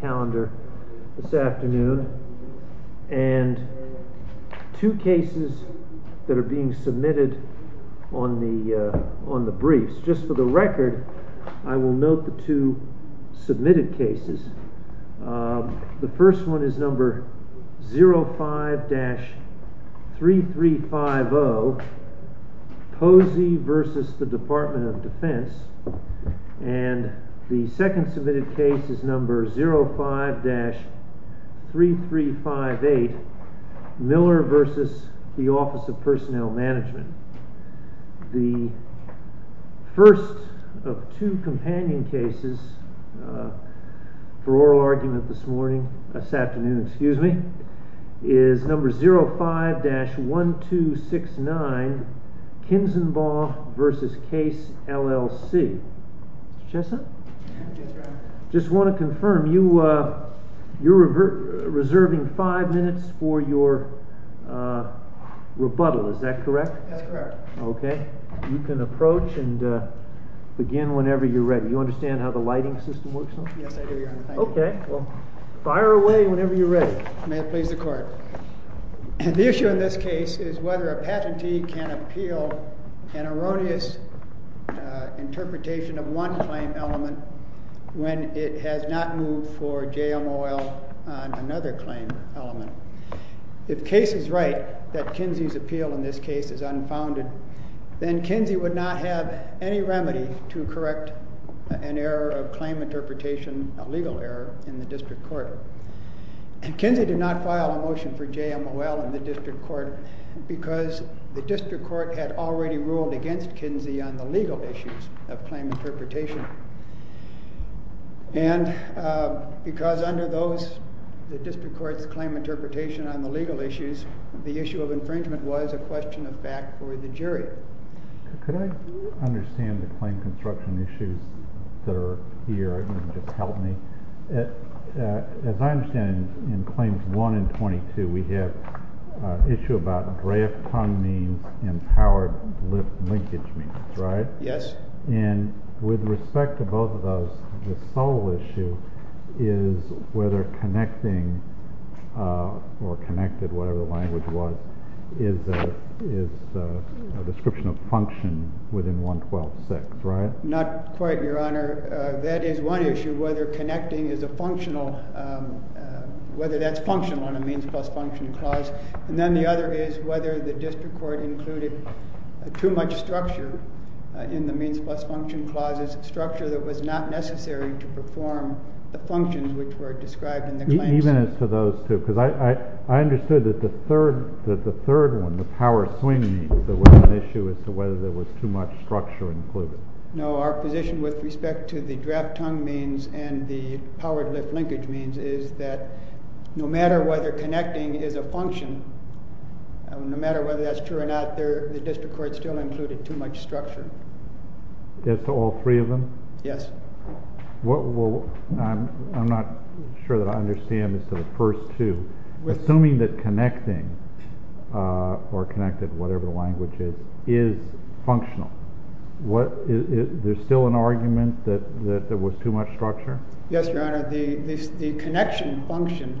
calendar this afternoon and two cases that are being submitted on the on the briefs. Just for the record I will note the two submitted cases. The first one is number 05-3350 Posey versus the Department of Defense and the second submitted case is number 05-3358 Miller versus the Office of Personnel Management. The first of two companion cases for oral argument this morning, this afternoon, excuse me, is number 05-1269 Kinzenbaugh versus case LLC. Chessa, just want to confirm you you're reserving five minutes for your rebuttal, is that correct? That's correct. Okay, you can approach and begin whenever you're ready. You understand how the lighting system works? Yes, I do, Your Honor. Okay, well fire away whenever you're ready. May it please the appeal an erroneous interpretation of one claim element when it has not moved for JMOL on another claim element. If case is right that Kinsey's appeal in this case is unfounded then Kinsey would not have any remedy to correct an error of claim interpretation, a legal error, in the district court. Kinsey did not already ruled against Kinsey on the legal issues of claim interpretation and because under those the district court's claim interpretation on the legal issues the issue of infringement was a question of fact for the jury. Could I understand the claim construction issues that are here to help me? As I understand in claims 1 and 22 we have an issue about draft tongue means and powered lip linkage means, right? Yes. And with respect to both of those, the sole issue is whether connecting or connected, whatever the language was, is a description of function within 112 sect, right? Not quite, Your Honor. That is one issue, whether connecting is a description of function. That is functional on a means plus function clause. And then the other is whether the district court included too much structure in the means plus function clauses, structure that was not necessary to perform the functions which were described in the claims. Even as to those two, because I understood that the third, that the third one, the power swing, there was an issue as to whether there was too much structure included. No, our position with respect to the draft tongue means and the matter whether connecting is a function, no matter whether that's true or not, the district court still included too much structure. As to all three of them? Yes. Well, I'm not sure that I understand this to the first two. Assuming that connecting or connected, whatever the language is, is functional. What is, there's still an argument that there was too much structure? Yes, Your Honor. The connection function,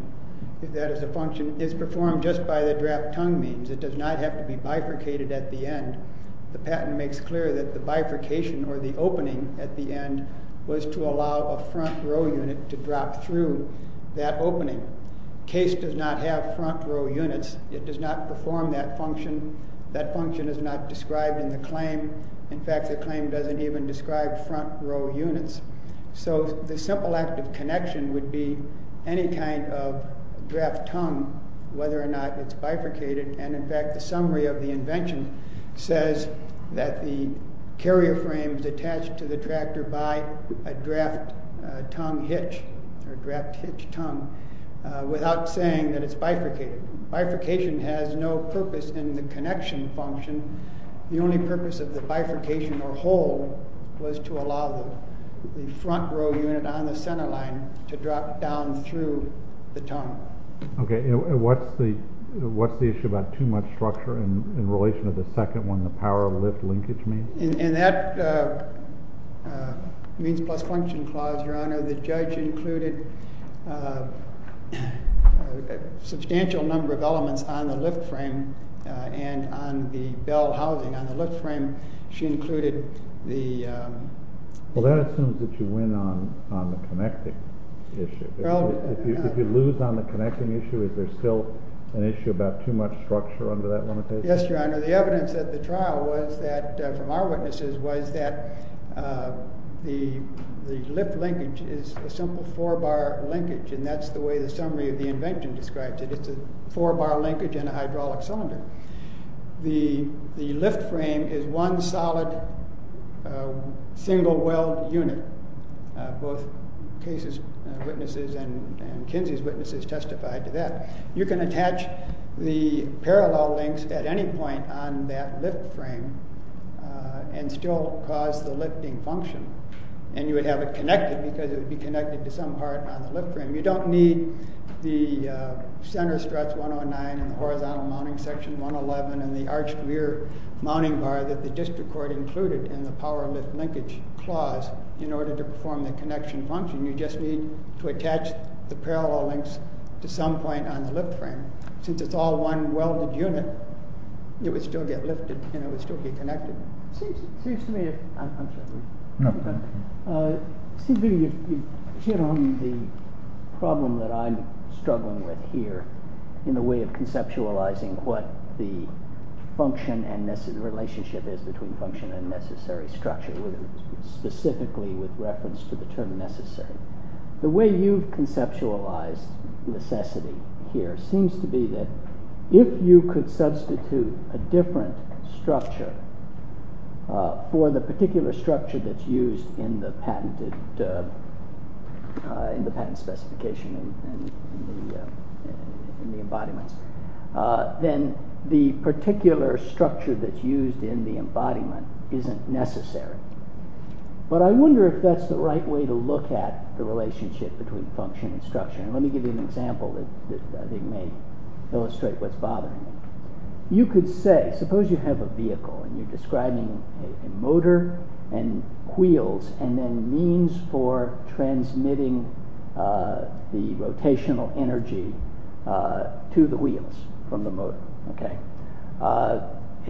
if that is a function, is performed just by the draft tongue means. It does not have to be bifurcated at the end. The patent makes clear that the bifurcation or the opening at the end was to allow a front row unit to drop through that opening. Case does not have front row units. It does not perform that function. That function is not described in the claim. In fact, the claim doesn't even describe front row units. So the simple act of any kind of draft tongue, whether or not it's bifurcated, and in fact the summary of the invention says that the carrier frame is attached to the tractor by a draft tongue hitch or draft hitch tongue without saying that it's bifurcated. Bifurcation has no purpose in the connection function. The only purpose of the bifurcation or hole was to allow the front row unit on the center line to drop down through the tongue. Okay, and what's the issue about too much structure in relation to the second one, the power of lift linkage means? And that means plus function clause, Your Honor, the judge included a substantial number of elements on the lift frame and on the bell housing. On the lift frame, she Well, if you lose on the connecting issue, is there still an issue about too much structure under that limitation? Yes, Your Honor. The evidence at the trial was that from our witnesses was that the lift linkage is a simple four bar linkage, and that's the way the summary of the invention describes it. It's a four bar linkage in a hydraulic cylinder. The lift frame is one solid single well unit. Both cases, witnesses and Kinsey's witnesses testified to that. You can attach the parallel links at any point on that lift frame and still cause the lifting function, and you would have it connected because it would be connected to some part on the lift frame. You don't need the center struts 109 and horizontal mounting section 111 and the arched rear mounting bar that the in order to perform the connection function, you just need to attach the parallel links to some point on the lift frame. Since it's all one welded unit, it would still get lifted, and it would still be connected. It seems to me, I'm sorry, it seems to me, Jerome, the problem that I'm struggling with here in the way of conceptualizing what the function and necessary relationship is between function and necessary structure, specifically with reference to the term necessary. The way you've conceptualized necessity here seems to be that if you could substitute a different structure for the particular structure that's used in the patented, in the patent specification in the embodiments, then the particular structure that's used in the embodiment isn't necessary. But I wonder if that's the right way to look at the relationship between function and structure. Let me give you an example that may illustrate what's bothering me. You could say, suppose you have a vehicle and you're describing a motor and wheels and then means for transmitting the rotational energy to the wheels from the motor.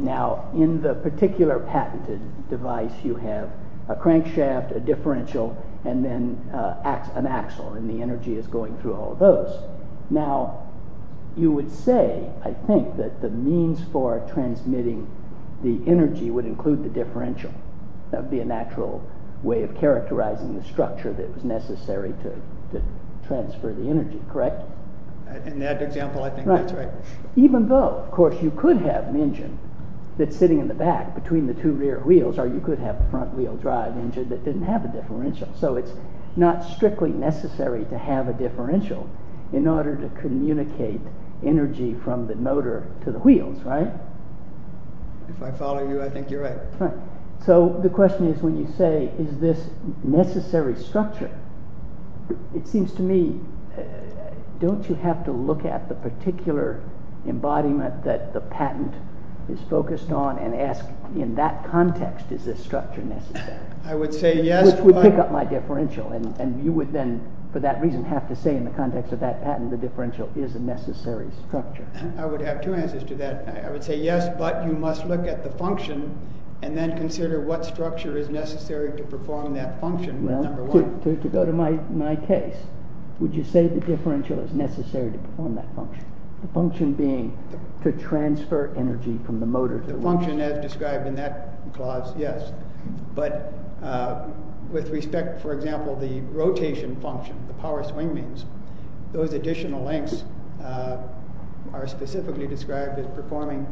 Now in the particular patented device you have a crankshaft, a differential, and then an axle, and the energy is going through all those. Now you would say, I think, that the means for transmitting the energy would include the differential. That would be a natural way of characterizing the structure that was Oh, of course, you could have an engine that's sitting in the back between the two rear wheels, or you could have front wheel drive engine that didn't have a differential. So it's not strictly necessary to have a differential in order to communicate energy from the motor to the wheels, right? If I follow you, I think you're right. So the question is, when you say, is this necessary structure? It seems to me, don't you have to look at the particular embodiment that the patent is focused on and ask, in that context, is this structure necessary? I would say yes, but... You would pick up my differential and you would then, for that reason, have to say in the context of that patent, the differential is a necessary structure. I would have two answers to that. I would say yes, but you must look at the function and then consider what structure is necessary to go to my case. Would you say the differential is necessary to perform that function? The function being to transfer energy from the motor to the wheels? The function as described in that clause, yes, but with respect, for example, the rotation function, the power swing means, those additional lengths are specifically described as performing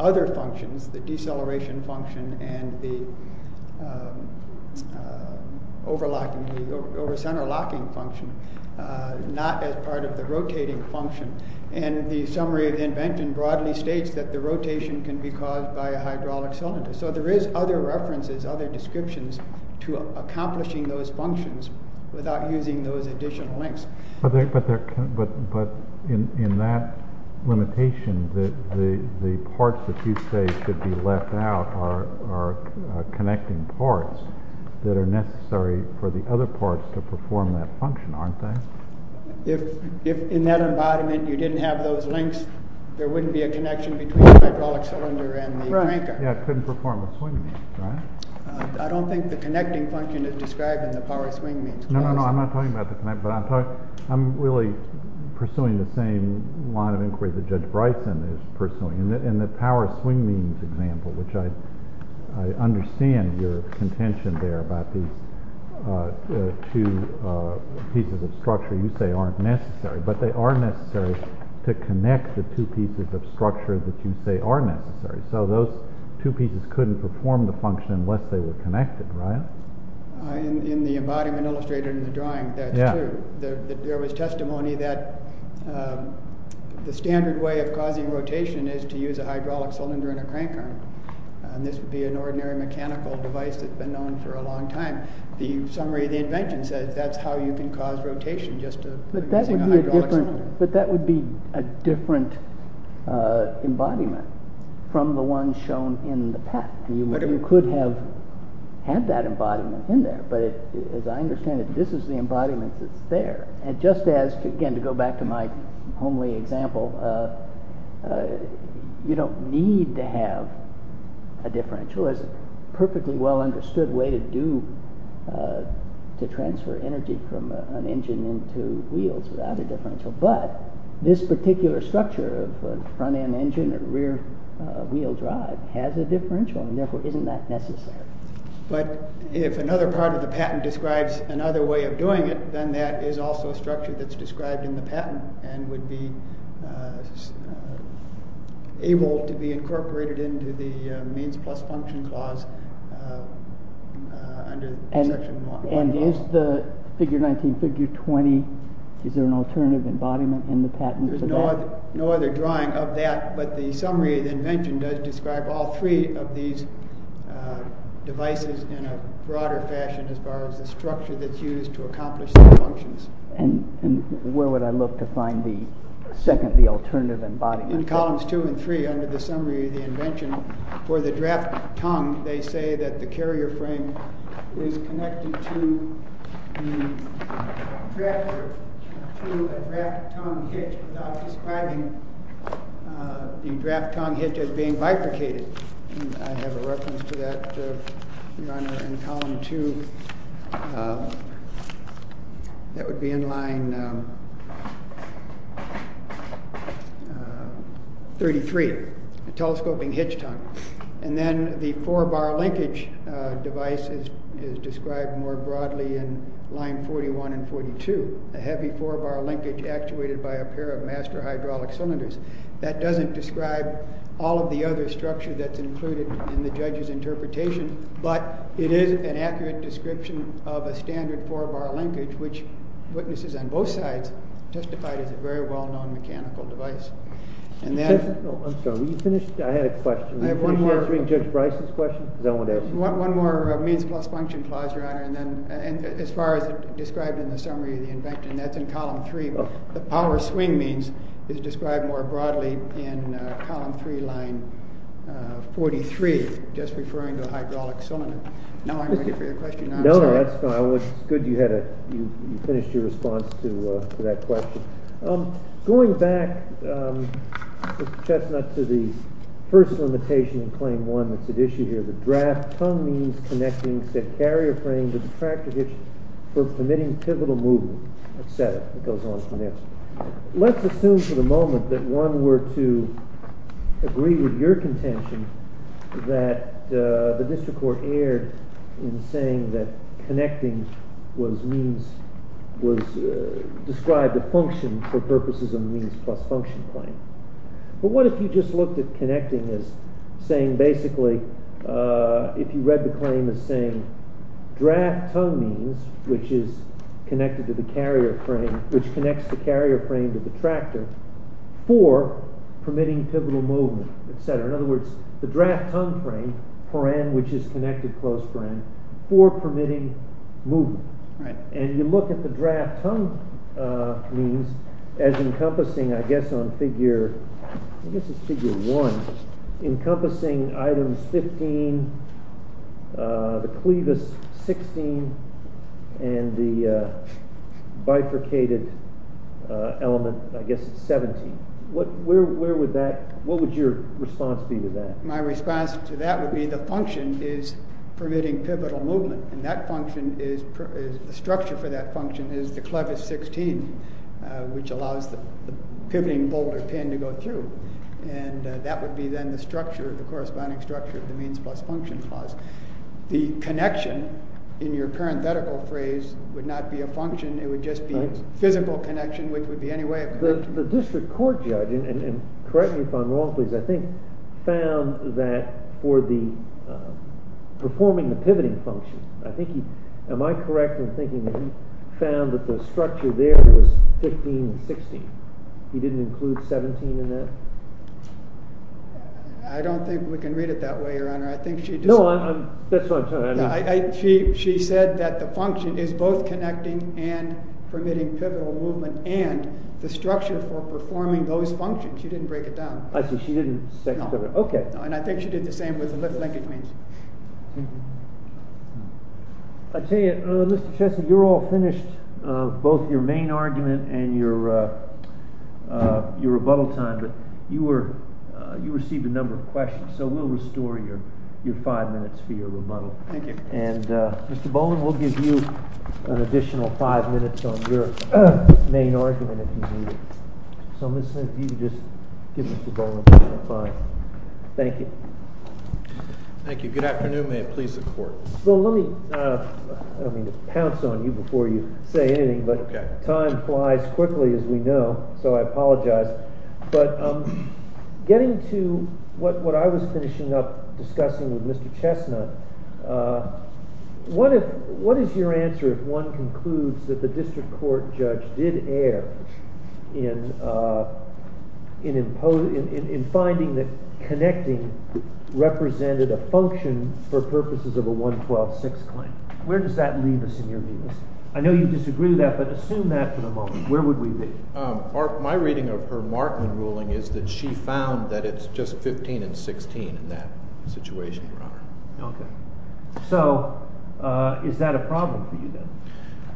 other functions, the deceleration function and the over-center locking function, not as part of the rotating function. And the summary of the invention broadly states that the rotation can be caused by a hydraulic cylinder. So there is other references, other descriptions to accomplishing those functions without using those additional lengths. But in that limitation, the parts that you say should be left out are connecting parts that are necessary for the other parts to perform that function, aren't they? If in that embodiment you didn't have those lengths, there wouldn't be a connection between the hydraulic cylinder and the cranker. Yeah, it couldn't perform a swing, right? I don't think the connecting function is described in the power swing means clause. No, no, no, I'm not talking about the connecting, but I'm really pursuing the same line of inquiry that Judge Bryson is pursuing in the power swing means example, which I understand your contention there about the two pieces of structure you say aren't necessary, but they are necessary to connect the two pieces of structure that you say are necessary. So those two pieces couldn't perform the function unless they were connected, right? In the embodiment illustrated in the drawing, that's true. There was testimony that the standard way of causing rotation is to use a hydraulic cylinder and a cranker, and this would be an ordinary mechanical device that's been known for a long time. The summary of the invention says that's how you can cause rotation just using a hydraulic cylinder. But that would be a different embodiment from the one shown in the pack. You could have had that embodiment in there, but as I understand it, this is the embodiment that's there. And just as, again to go back to my homely example, you don't need to have a differential. It's a perfectly well understood way to do, to transfer energy from an engine into wheels without a differential, but this particular structure of a front-end engine or rear-wheel drive has a differential, and therefore isn't that necessary. But if another part of the front-end that is also a structure that's described in the patent and would be able to be incorporated into the Means Plus Function Clause under Section 1. And is the figure 19, figure 20, is there an alternative embodiment in the patent? There's no other drawing of that, but the summary of the invention does describe all three of these devices in a broader fashion as far as the structure that's accomplished the functions. And where would I look to find the second, the alternative embodiment? In columns 2 and 3 under the summary of the invention, for the draft tongue, they say that the carrier frame is connected to the drafter through a draft tongue hitch without describing the draft tongue hitch as being bifurcated. I have a reference to that, Your Honor, in column 2. That would be in line 33, a telescoping hitch tongue. And then the four-bar linkage device is described more broadly in line 41 and 42, a heavy four-bar linkage actuated by a pair of master hydraulic cylinders. That doesn't describe all of the other structure that's included in the judge's interpretation, but it is an accurate description of a standard four-bar linkage, which witnesses on both sides testified as a very well-known mechanical device. I'm sorry, were you finished? I had a question. Are you answering Judge Bryce's question? One more Means Plus Function Clause, Your Honor, and as far as it's described in the summary of the invention, that's in column 3. The power swing means is described more broadly in column 3, line 43, just referring to a hydraulic cylinder. Now I'm ready for your question, Your Honor. No, no, that's fine. It's good you finished your response to that question. Going back, Mr. Chesnut, to the first limitation in Claim 1 that's at issue here, the draft tongue means connecting said carrier frame to the tractor hitch for permitting pivotal movement. Let's assume for the moment that one were to agree with your contention that the district court erred in saying that connecting was described a function for purposes of the Means Plus Function Claim. But what if you just looked at connecting as saying basically, if you read the claim as saying draft tongue means, which is connected to the carrier frame, which connects the carrier frame to the tractor for permitting pivotal movement, etc. In other words, the draft tongue frame, which is connected, for permitting movement. And you look at the draft tongue means as encompassing items 15, the clevis 16, and the bifurcated element 17. What would your response be to that? My response to that would be the function is permitting pivotal movement. And the structure for that function is the clevis 16, which allows the pivoting boulder pin to go through. And that would be then the corresponding structure of the Means Plus Function Clause. The connection, in your parenthetical phrase, would not be a function. It would just be physical connection, which would be any way of connecting. The district court judge, and correct me if I'm wrong, please, I think found that for the performing the pivoting function, I think he, am I correct in thinking that he found that the structure there was 15 and 16? He didn't include 17 in that? I don't think we can read it that way, Your Honor. I think she did. No, I'm, that's what I'm saying. She said that the function is both connecting and permitting pivotal movement and the structure for performing those functions. She didn't break it down. I see, she didn't say, okay. No, and I think she did the same with the linkage means. I tell you, Mr. Chess, you're all finished, both your main argument and your rebuttal time, but you received a number of questions, so we'll restore your five minutes for your rebuttal. Thank you. And Mr. Boland, we'll give you an additional five minutes on your main argument if you need it. So, Mr. Smith, if you could just give Mr. Boland five. Thank you. Thank you. Good afternoon. May it please the court. So, let me, I don't mean to pounce on you before you say anything, but time flies quickly as we know, so I apologize. But getting to what I was finishing up discussing with Mr. Chesnut, what is your answer if one concludes that the district court judge did err in finding that connecting represented a function for purposes of a 112-6 claim? Where does that leave us in your view? I know you disagree with that, but assume that for the moment. Where would we be? My reading of her Markman ruling is that she found that it's just 15 and 16 in that situation, Your Honor. Okay. So, is that a problem for you then?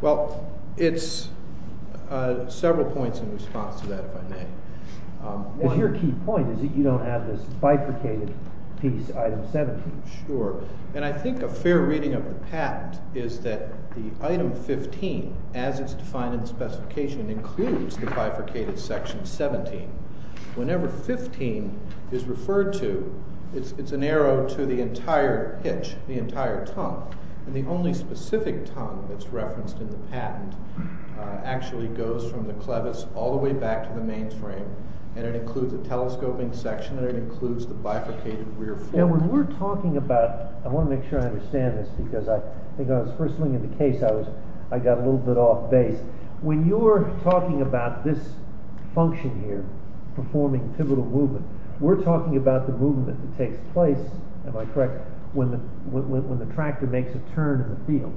Well, it's several points in response to that, if I may. Well, your key point is that you don't have this bifurcated piece, item 17. Sure. And I think a fair reading of the patent is that the item 15, as it's defined in the specification, includes the bifurcated section 17. Whenever 15 is referred to, it's an arrow to the entire pitch, the entire tongue. And the only specific tongue that's referenced in the patent actually goes from the clevis all the way back to the mainframe, and it includes the telescoping section, and it includes the bifurcated rear floor. Now, when we're talking about—I want to make sure I understand this, because I think on this first reading of the case, I got a little bit off base. When you're talking about this function here, performing pivotal movement, we're talking about the movement that takes place, am I correct, when the tractor makes a turn in the field.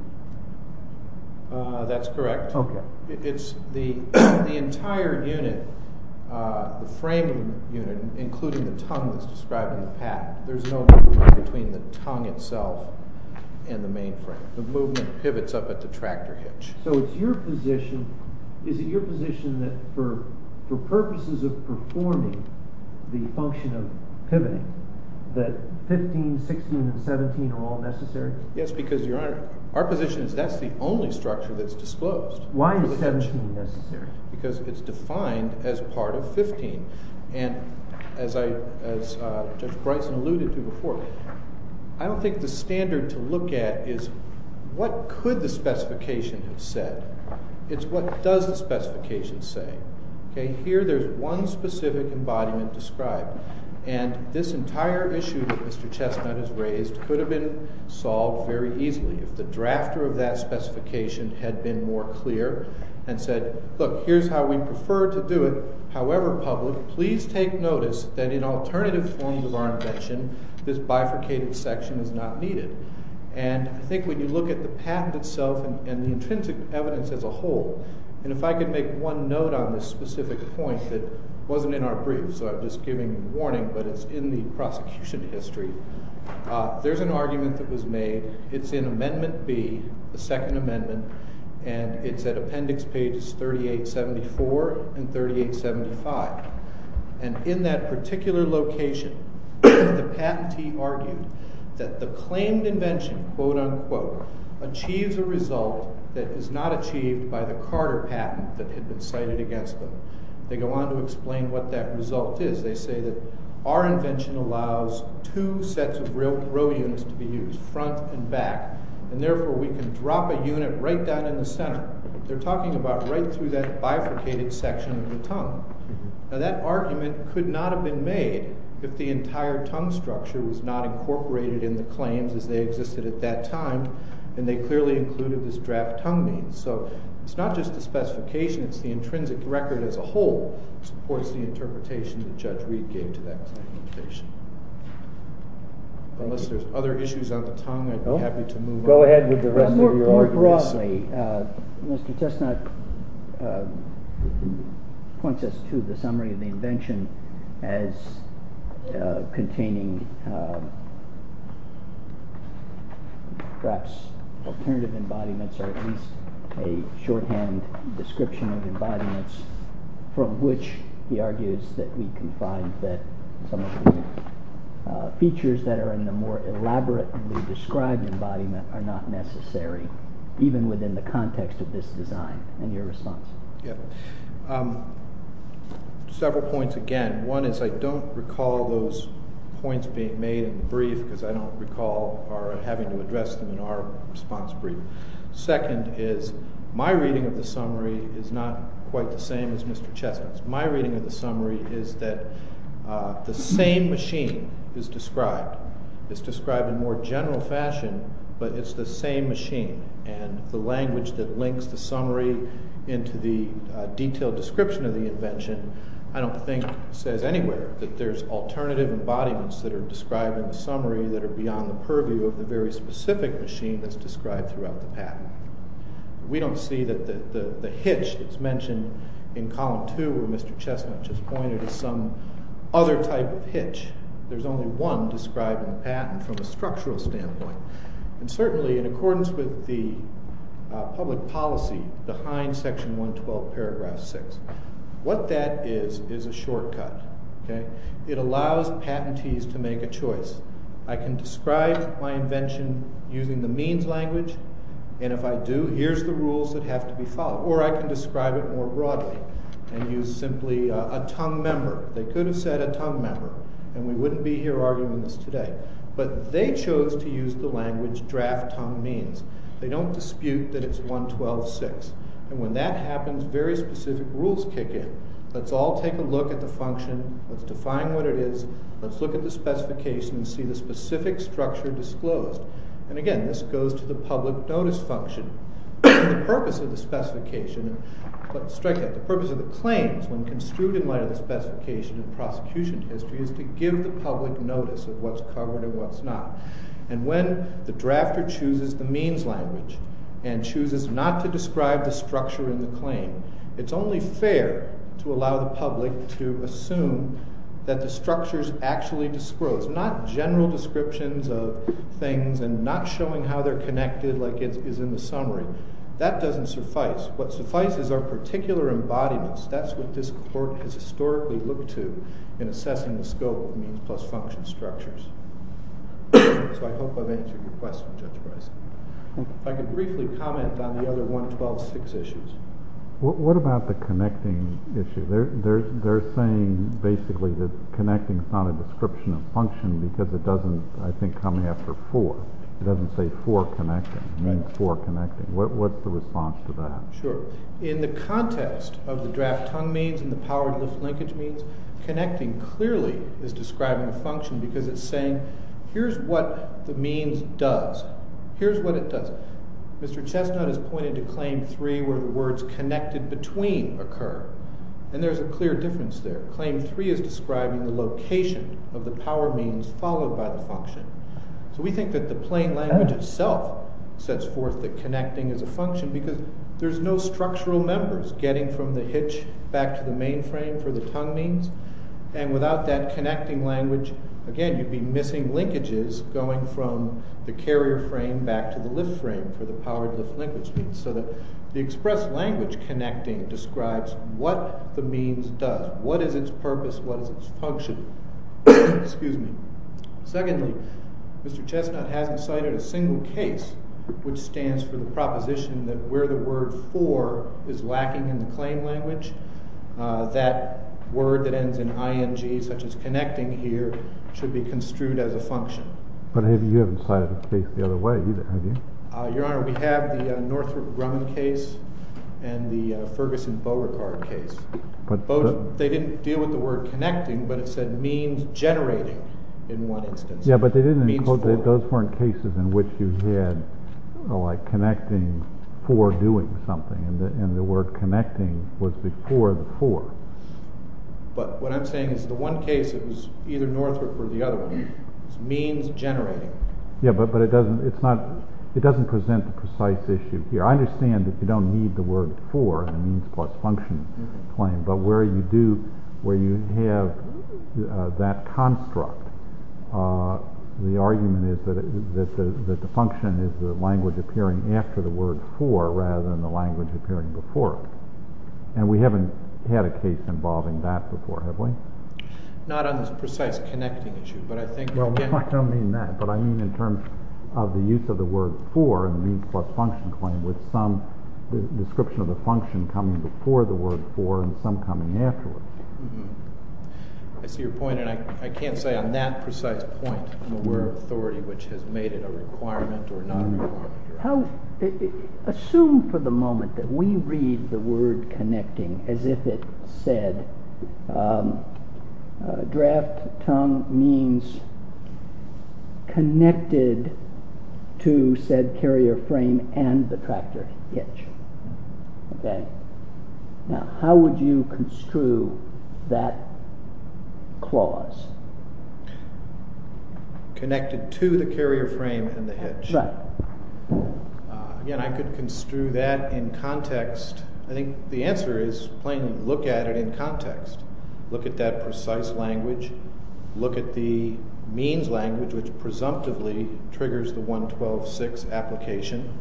That's correct. Okay. It's the entire unit, the framing unit, including the tongue that's described in the patent. There's no movement between the tongue itself and the mainframe. The movement pivots up at the tractor hitch. So it's your position—is it your position that for purposes of performing the function of pivoting, that 15, 16, and 17 are all necessary? Yes, because, Your Honor, our position is that's the only structure that's disclosed. Why is 17 necessary? Because it's defined as part of 15. And as Judge Bryson alluded to before, I don't think the standard to look at is what could the specification have said. It's what does the specification say. Here there's one specific embodiment described. And this entire issue that Mr. Chestnut has raised could have been solved very easily if the drafter of that specification had been more clear and said, Look, here's how we prefer to do it. However, public, please take notice that in alternative forms of our invention, this bifurcated section is not needed. And I think when you look at the patent itself and the intrinsic evidence as a whole—and if I could make one note on this specific point that wasn't in our brief, so I'm just giving a warning, but it's in the prosecution history—there's an argument that was made. It's in Amendment B, the Second Amendment, and it's at Appendix Pages 3874 and 3875. And in that particular location, the patentee argued that the claimed invention, quote, unquote, achieves a result that is not achieved by the Carter patent that had been cited against them. They go on to explain what that result is. They say that our invention allows two sets of row units to be used, front and back, and therefore we can drop a unit right down in the center. They're talking about right through that bifurcated section of the tongue. Now, that argument could not have been made if the entire tongue structure was not incorporated in the claims as they existed at that time, and they clearly included this draft tongue means. So it's not just the specification. It's the intrinsic record as a whole that supports the interpretation that Judge Reed gave to that claim. Unless there's other issues on the tongue, I'd be happy to move on. a shorthand description of embodiments from which he argues that we can find that some of the features that are in the more elaborately described embodiment are not necessary, even within the context of this design. And your response? Several points again. One is I don't recall those points being made in the brief because I don't recall our having to address them in our response brief. Second is my reading of the summary is not quite the same as Mr. Chessman's. My reading of the summary is that the same machine is described. It's described in more general fashion, but it's the same machine. And the language that links the summary into the detailed description of the invention, I don't think says anywhere that there's alternative embodiments that are described in the summary that are beyond the purview of the very specific machine that's described throughout the patent. We don't see that the hitch that's mentioned in Column 2 where Mr. Chessman just pointed is some other type of hitch. There's only one described in the patent from a structural standpoint. And certainly in accordance with the public policy behind Section 112, Paragraph 6, what that is is a shortcut. I can describe my invention using the means language, and if I do, here's the rules that have to be followed. Or I can describe it more broadly and use simply a tongue member. They could have said a tongue member, and we wouldn't be here arguing this today. But they chose to use the language draft tongue means. They don't dispute that it's 112.6. And when that happens, very specific rules kick in. Let's all take a look at the function. Let's define what it is. Let's look at the specification and see the specific structure disclosed. And again, this goes to the public notice function. The purpose of the specification, let's strike that. The purpose of the claims, when construed in light of the specification in prosecution history, is to give the public notice of what's covered and what's not. And when the drafter chooses the means language and chooses not to describe the structure in the claim, it's only fair to allow the public to assume that the structure is actually disclosed. Not general descriptions of things and not showing how they're connected like it is in the summary. That doesn't suffice. What suffices are particular embodiments. That's what this court has historically looked to in assessing the scope of means plus function structures. So I hope I've answered your question, Judge Breis. I can briefly comment on the other 1, 12, 6 issues. What about the connecting issue? They're saying basically that connecting is not a description of function because it doesn't, I think, come after for. It doesn't say for connecting. It means for connecting. What's the response to that? Sure. In the context of the draft tongue means and the power to lift linkage means, connecting clearly is describing a function because it's saying here's what the means does. Here's what it does. Mr. Chestnut has pointed to Claim 3 where the words connected between occur, and there's a clear difference there. Claim 3 is describing the location of the power means followed by the function. So we think that the plain language itself sets forth that connecting is a function because there's no structural members getting from the hitch back to the mainframe for the tongue means, and without that connecting language, again, you'd be missing linkages going from the carrier frame back to the lift frame for the power to lift linkage means so that the express language connecting describes what the means does. What is its purpose? What is its function? Excuse me. Secondly, Mr. Chestnut hasn't cited a single case which stands for the proposition that where the word for is lacking in the claim language, that word that ends in ing, such as connecting here, should be construed as a function. But you haven't cited a case the other way, have you? Your Honor, we have the Northrop Grumman case and the Ferguson Bogart case. They didn't deal with the word connecting, but it said means generating in one instance. Yeah, but those weren't cases in which you had connecting for doing something, and the word connecting was before the for. But what I'm saying is in the one case it was either Northrop or the other one. It's means generating. Yeah, but it doesn't present the precise issue here. I understand that you don't need the word for in the means plus function claim, but where you have that construct, the argument is that the function is the language appearing after the word for rather than the language appearing before it. And we haven't had a case involving that before, have we? Not on the precise connecting issue, but I think again— No, I don't mean that. But I mean in terms of the use of the word for in the means plus function claim with some description of the function coming before the word for and some coming afterwards. I see your point, and I can't say on that precise point I'm aware of authority which has made it a requirement or not a requirement. Assume for the moment that we read the word connecting as if it said draft tongue means connected to said carrier frame and the tractor hitch. Okay. Now, how would you construe that clause? Connected to the carrier frame and the hitch. Right. Again, I could construe that in context. I think the answer is plainly look at it in context. Look at that precise language. Look at the means language which presumptively triggers the 112.6 application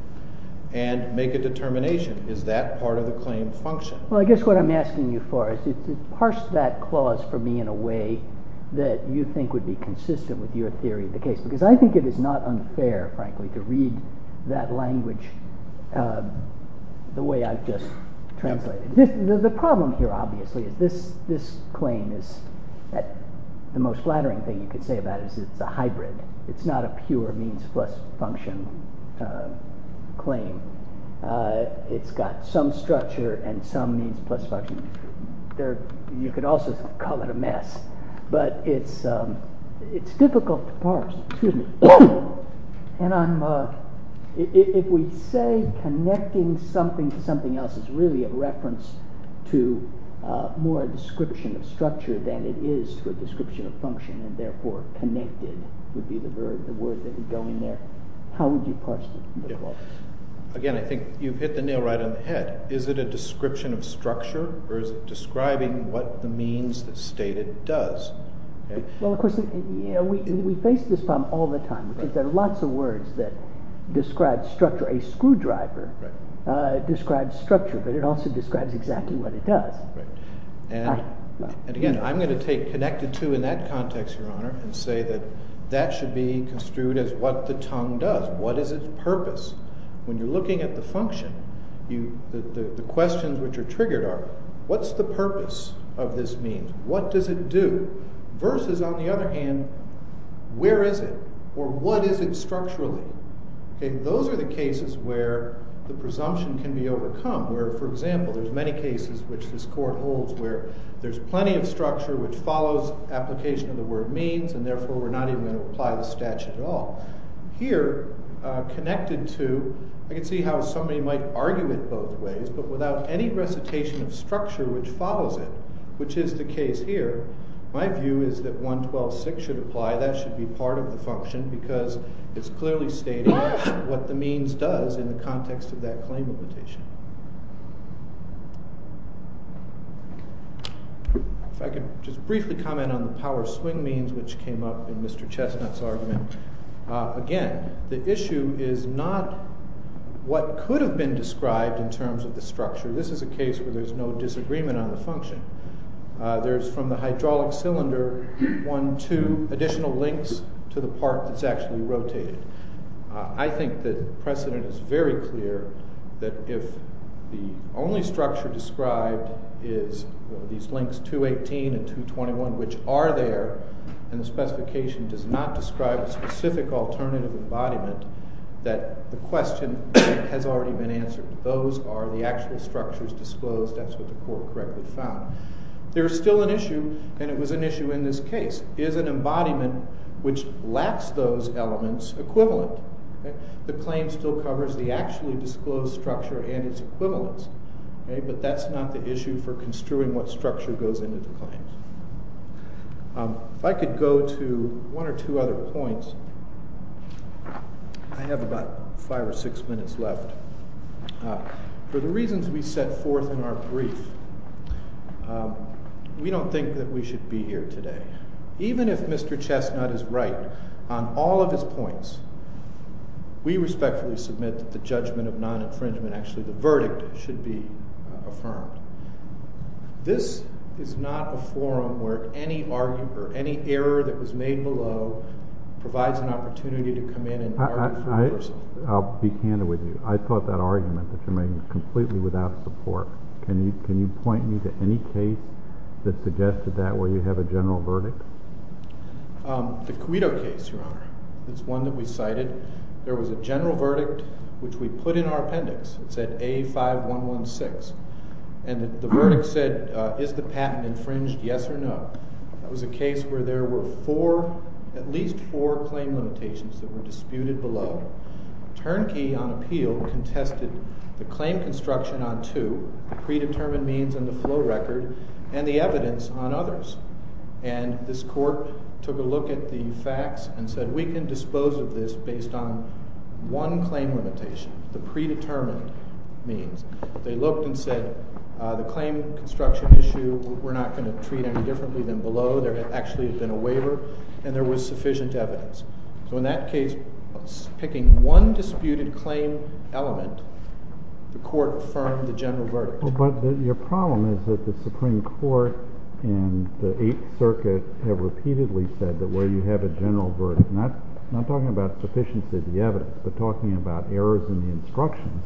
and make a determination. Is that part of the claim function? Well, I guess what I'm asking you for is to parse that clause for me in a way that you think would be consistent with your theory of the case because I think it is not unfair, frankly, to read that language the way I've just translated it. The problem here, obviously, is this claim is— the most flattering thing you could say about it is it's a hybrid. It's not a pure means plus function claim. It's got some structure and some means plus function. You could also call it a mess, but it's difficult to parse. Excuse me. If we say connecting something to something else is really a reference to more a description of structure than it is to a description of function and therefore connected would be the word that would go in there, how would you parse the clause? Again, I think you've hit the nail right on the head. Is it a description of structure or is it describing what the means that state it does? Well, of course, we face this problem all the time because there are lots of words that describe structure. A screwdriver describes structure, but it also describes exactly what it does. Again, I'm going to take connected to in that context, Your Honor, and say that that should be construed as what the tongue does. What is its purpose? When you're looking at the function, the questions which are triggered are what's the purpose of this means? What does it do? Versus, on the other hand, where is it or what is it structurally? Those are the cases where the presumption can be overcome, where, for example, there's many cases which this Court holds where there's plenty of structure which follows application of the word means and therefore we're not even going to apply the statute at all. Here, connected to, I can see how somebody might argue it both ways, but without any recitation of structure which follows it, which is the case here, my view is that 112.6 should apply. That should be part of the function because it's clearly stating what the means does in the context of that claim application. If I could just briefly comment on the power swing means which came up in Mr. Chestnut's argument. Again, the issue is not what could have been described in terms of the structure. This is a case where there's no disagreement on the function. There's, from the hydraulic cylinder, one, two additional links to the part that's actually rotated. I think the precedent is very clear that if the only structure described is these links 218 and 221, which are there, and the specification does not describe a specific alternative embodiment, that the question has already been answered. Those are the actual structures disclosed. That's what the Court correctly found. There is still an issue, and it was an issue in this case. There is an embodiment which lacks those elements equivalent. The claim still covers the actually disclosed structure and its equivalents, but that's not the issue for construing what structure goes into the claim. If I could go to one or two other points. I have about five or six minutes left. For the reasons we set forth in our brief, we don't think that we should be here today. Even if Mr. Chestnut is right on all of his points, we respectfully submit that the judgment of non-infringement, actually the verdict, should be affirmed. This is not a forum where any error that was made below provides an opportunity to come in and argue for yourself. I'll be candid with you. I thought that argument that you're making is completely without support. Can you point me to any case that suggested that where you have a general verdict? The Cuito case, Your Honor. It's one that we cited. There was a general verdict which we put in our appendix. It said A5116. The verdict said, is the patent infringed, yes or no? It was a case where there were at least four claim limitations that were disputed below. Turnkey, on appeal, contested the claim construction on two, the predetermined means and the flow record, and the evidence on others. And this court took a look at the facts and said, we can dispose of this based on one claim limitation, the predetermined means. They looked and said, the claim construction issue, we're not going to treat any differently than below. There actually had been a waiver, and there was sufficient evidence. So in that case, picking one disputed claim element, the court affirmed the general verdict. But your problem is that the Supreme Court and the Eighth Circuit have repeatedly said that where you have a general verdict, not talking about sufficiency of the evidence, but talking about errors in the instructions,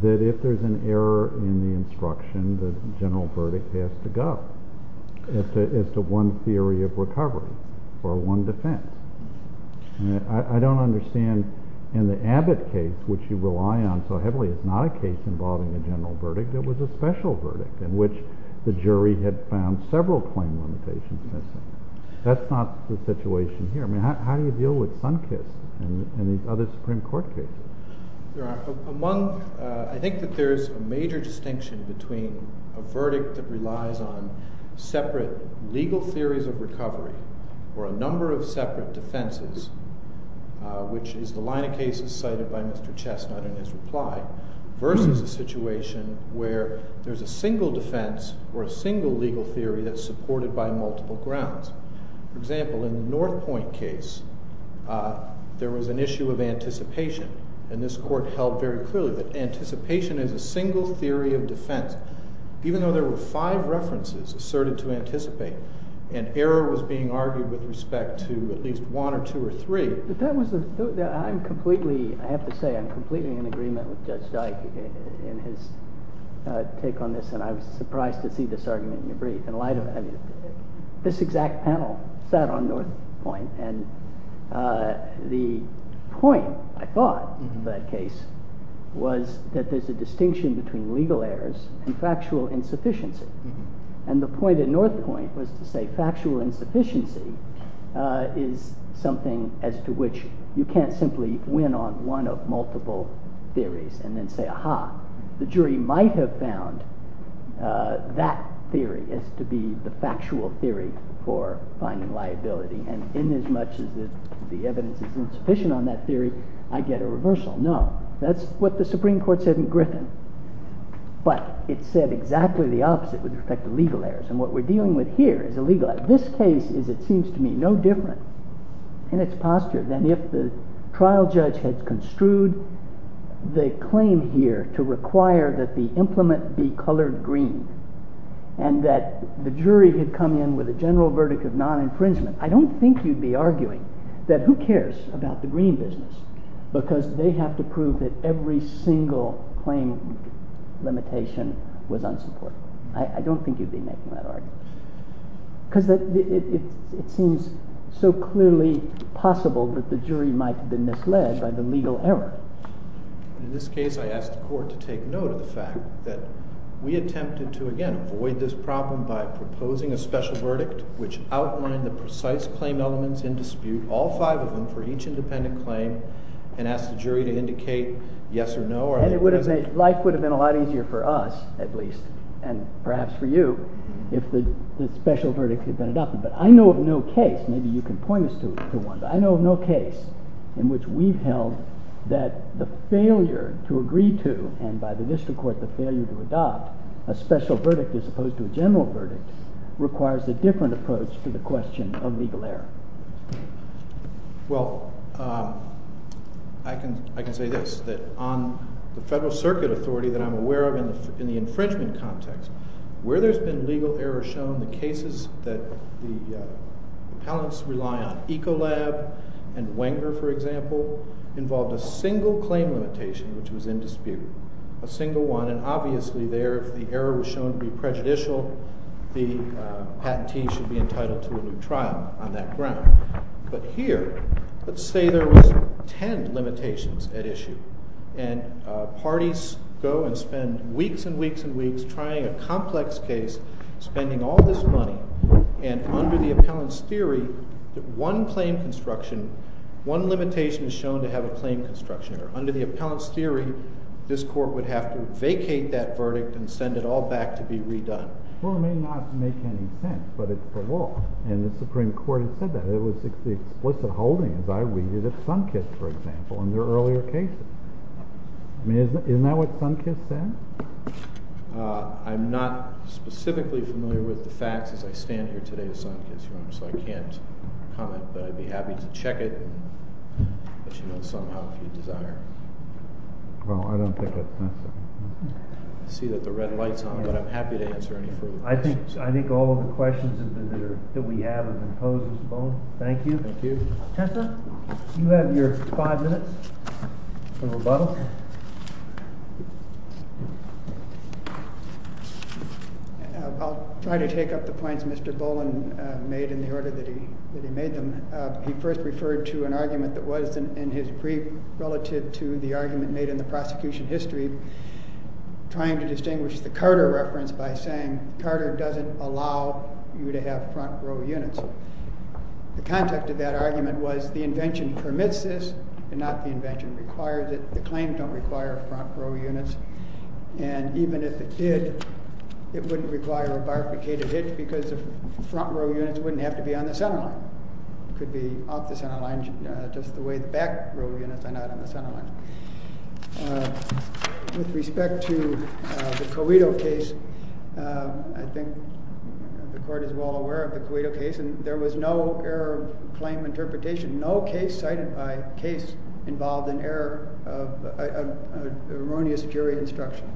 that if there's an error in the instruction, the general verdict has to go as to one theory of recovery or one defense. I don't understand in the Abbott case, which you rely on so heavily, it's not a case involving a general verdict. It was a special verdict in which the jury had found several claim limitations missing. That's not the situation here. I mean, how do you deal with Sunkist and these other Supreme Court cases? I think that there is a major distinction between a verdict that relies on separate legal theories of recovery or a number of separate defenses, which is the line of cases cited by Mr. Chestnut in his reply, versus a situation where there's a single defense or a single legal theory that's supported by multiple grounds. For example, in the North Point case, there was an issue of anticipation, and this court held very clearly that anticipation is a single theory of defense. Even though there were five references asserted to anticipate and error was being argued with respect to at least one or two or three— But that was a—I'm completely—I have to say I'm completely in agreement with Judge Dyke in his take on this, and I was surprised to see this argument in your brief. This exact panel sat on North Point, and the point, I thought, of that case was that there's a distinction between legal errors and factual insufficiency. And the point at North Point was to say factual insufficiency is something as to which you can't simply win on one of multiple theories and then say, that theory is to be the factual theory for finding liability, and inasmuch as the evidence is insufficient on that theory, I get a reversal. No, that's what the Supreme Court said in Griffin. But it said exactly the opposite with respect to legal errors, and what we're dealing with here is a legal error. This case is, it seems to me, no different in its posture than if the trial judge had construed the claim here to require that the implement be colored green, and that the jury had come in with a general verdict of non-infringement. I don't think you'd be arguing that who cares about the green business, because they have to prove that every single claim limitation was unsupportable. I don't think you'd be making that argument, because it seems so clearly possible that the jury might have been misled by the legal error. In this case, I asked the court to take note of the fact that we attempted to, again, avoid this problem by proposing a special verdict which outlined the precise claim elements in dispute, all five of them, for each independent claim, and asked the jury to indicate yes or no. And life would have been a lot easier for us, at least, and perhaps for you, if the special verdict had been adopted. But I know of no case, maybe you can point us to one, but I know of no case in which we've held that the failure to agree to, and by the district court, the failure to adopt a special verdict as opposed to a general verdict, requires a different approach to the question of legal error. Well, I can say this, that on the Federal Circuit authority that I'm aware of in the infringement context, where there's been legal error shown, the cases that the appellants rely on, Ecolab and Wenger, for example, involved a single claim limitation which was in dispute. A single one, and obviously there, if the error was shown to be prejudicial, the patentee should be entitled to a new trial on that ground. But here, let's say there was ten limitations at issue, and parties go and spend weeks and weeks and weeks trying a complex case, spending all this money, and under the appellant's theory, that one claim construction, one limitation is shown to have a claim construction error. Under the appellant's theory, this court would have to vacate that verdict and send it all back to be redone. Well, it may not make any sense, but it's the law, and the Supreme Court has said that. It was the explicit holding, as I read it, of Sunkist, for example, in their earlier cases. Isn't that what Sunkist said? I'm not specifically familiar with the facts as I stand here today to Sunkist, Your Honor, so I can't comment, but I'd be happy to check it, as you know, somehow, if you desire. Well, I don't think that's necessary. I see that the red light's on, but I'm happy to answer any further questions. I think all of the questions that we have have been posed, Mr. Boland. Thank you. Thank you. Tessa, you have your five minutes for rebuttal. I'll try to take up the points Mr. Boland made in the order that he made them. He first referred to an argument that was in his brief relative to the argument made in the prosecution history, trying to distinguish the Carter reference by saying Carter doesn't allow you to have front row units. The context of that argument was the invention permits this and not the invention requires it. The claims don't require front row units, and even if it did, it wouldn't require a barricaded hitch because the front row units wouldn't have to be on the center line. It could be off the center line just the way the back row units are not on the center line. With respect to the Corito case, I think the court is well aware of the Corito case, and there was no error of claim interpretation, no case cited by case involved an error of erroneous jury instruction.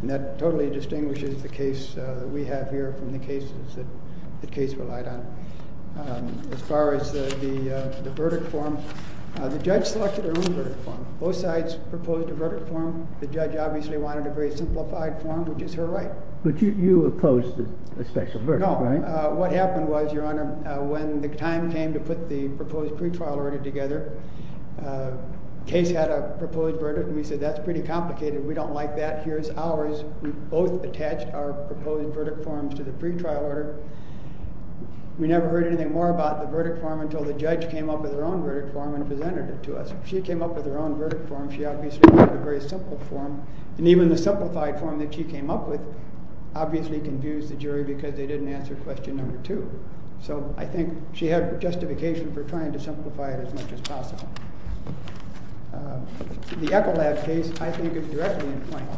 And that totally distinguishes the case that we have here from the cases that the case relied on. As far as the verdict form, the judge selected her own verdict form. Both sides proposed a verdict form. The judge obviously wanted a very simplified form, which is her right. But you opposed a special verdict, right? No. What happened was, Your Honor, when the time came to put the proposed pretrial order together, the case had a proposed verdict, and we said that's pretty complicated. We don't like that. Here's ours. We both attached our proposed verdict forms to the pretrial order. We never heard anything more about the verdict form until the judge came up with her own verdict form and presented it to us. She came up with her own verdict form. She obviously wanted a very simple form, and even the simplified form that she came up with obviously confused the jury because they didn't answer question number two. So I think she had justification for trying to simplify it as much as possible. The Ecolab case, I think, is directly inclined.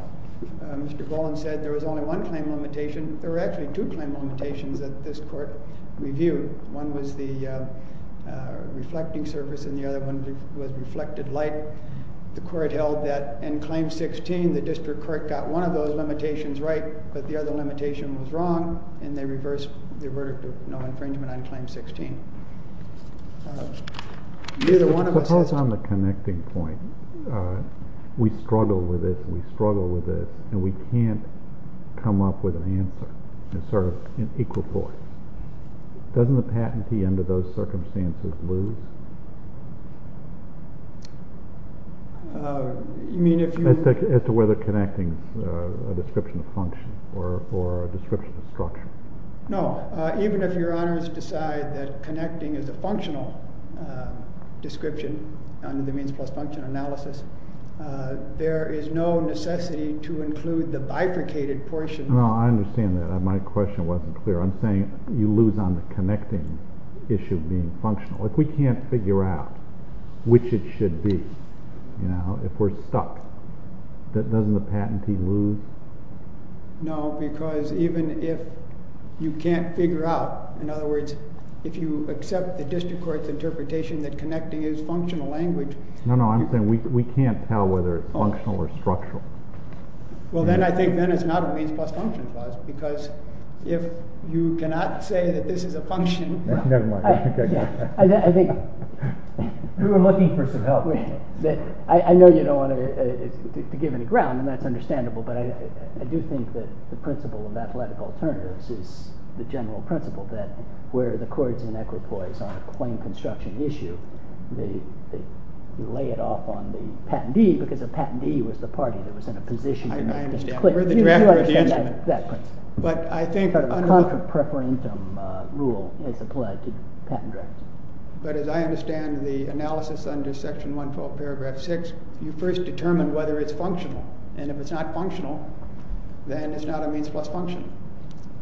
Mr. Golan said there was only one claim limitation. There were actually two claim limitations that this court reviewed. One was the reflecting surface, and the other one was reflected light. The court held that in Claim 16, the district court got one of those limitations right, but the other limitation was wrong, and they reversed their verdict of no infringement on Claim 16. Neither one of us has to— Suppose on the connecting point, we struggle with this, and we struggle with this, and we can't come up with an answer that's sort of an equal point. Doesn't the patentee under those circumstances lose? You mean if you— As to whether connecting is a description of function or a description of structure. No. Even if your honors decide that connecting is a functional description under the means-plus-function analysis, there is no necessity to include the bifurcated portion. No, I understand that. My question wasn't clear. I'm saying you lose on the connecting issue being functional. We can't figure out which it should be if we're stuck. Doesn't the patentee lose? No, because even if you can't figure out, in other words, if you accept the district court's interpretation that connecting is functional language— No, no. I'm saying we can't tell whether it's functional or structural. Well, then I think then it's not a means-plus-function clause, because if you cannot say that this is a function— Never mind. We were looking for some help here. I know you don't want to give any ground, and that's understandable, but I do think that the principle of athletic alternatives is the general principle that where the courts in equipoise on a claim construction issue, they lay it off on the patentee because the patentee was the party that was in a position— I understand. I read the draft of the argument. But I think— A kind of a contra preferentum rule is applied to patent drafting. But as I understand the analysis under Section 112, Paragraph 6, you first determine whether it's functional. And if it's not functional, then it's not a means-plus-function.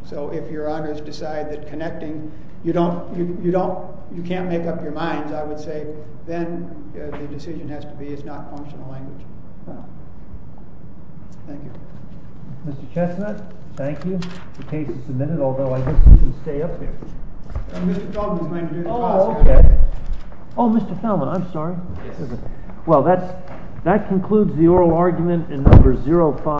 So if your honors decide that connecting—you can't make up your minds, I would say, then the decision has to be it's not functional language. Thank you. Mr. Chessnut, thank you. The case is submitted, although I guess you can stay up here. Mr. Feldman, I'm sorry. Well, that concludes the oral argument in Number 05.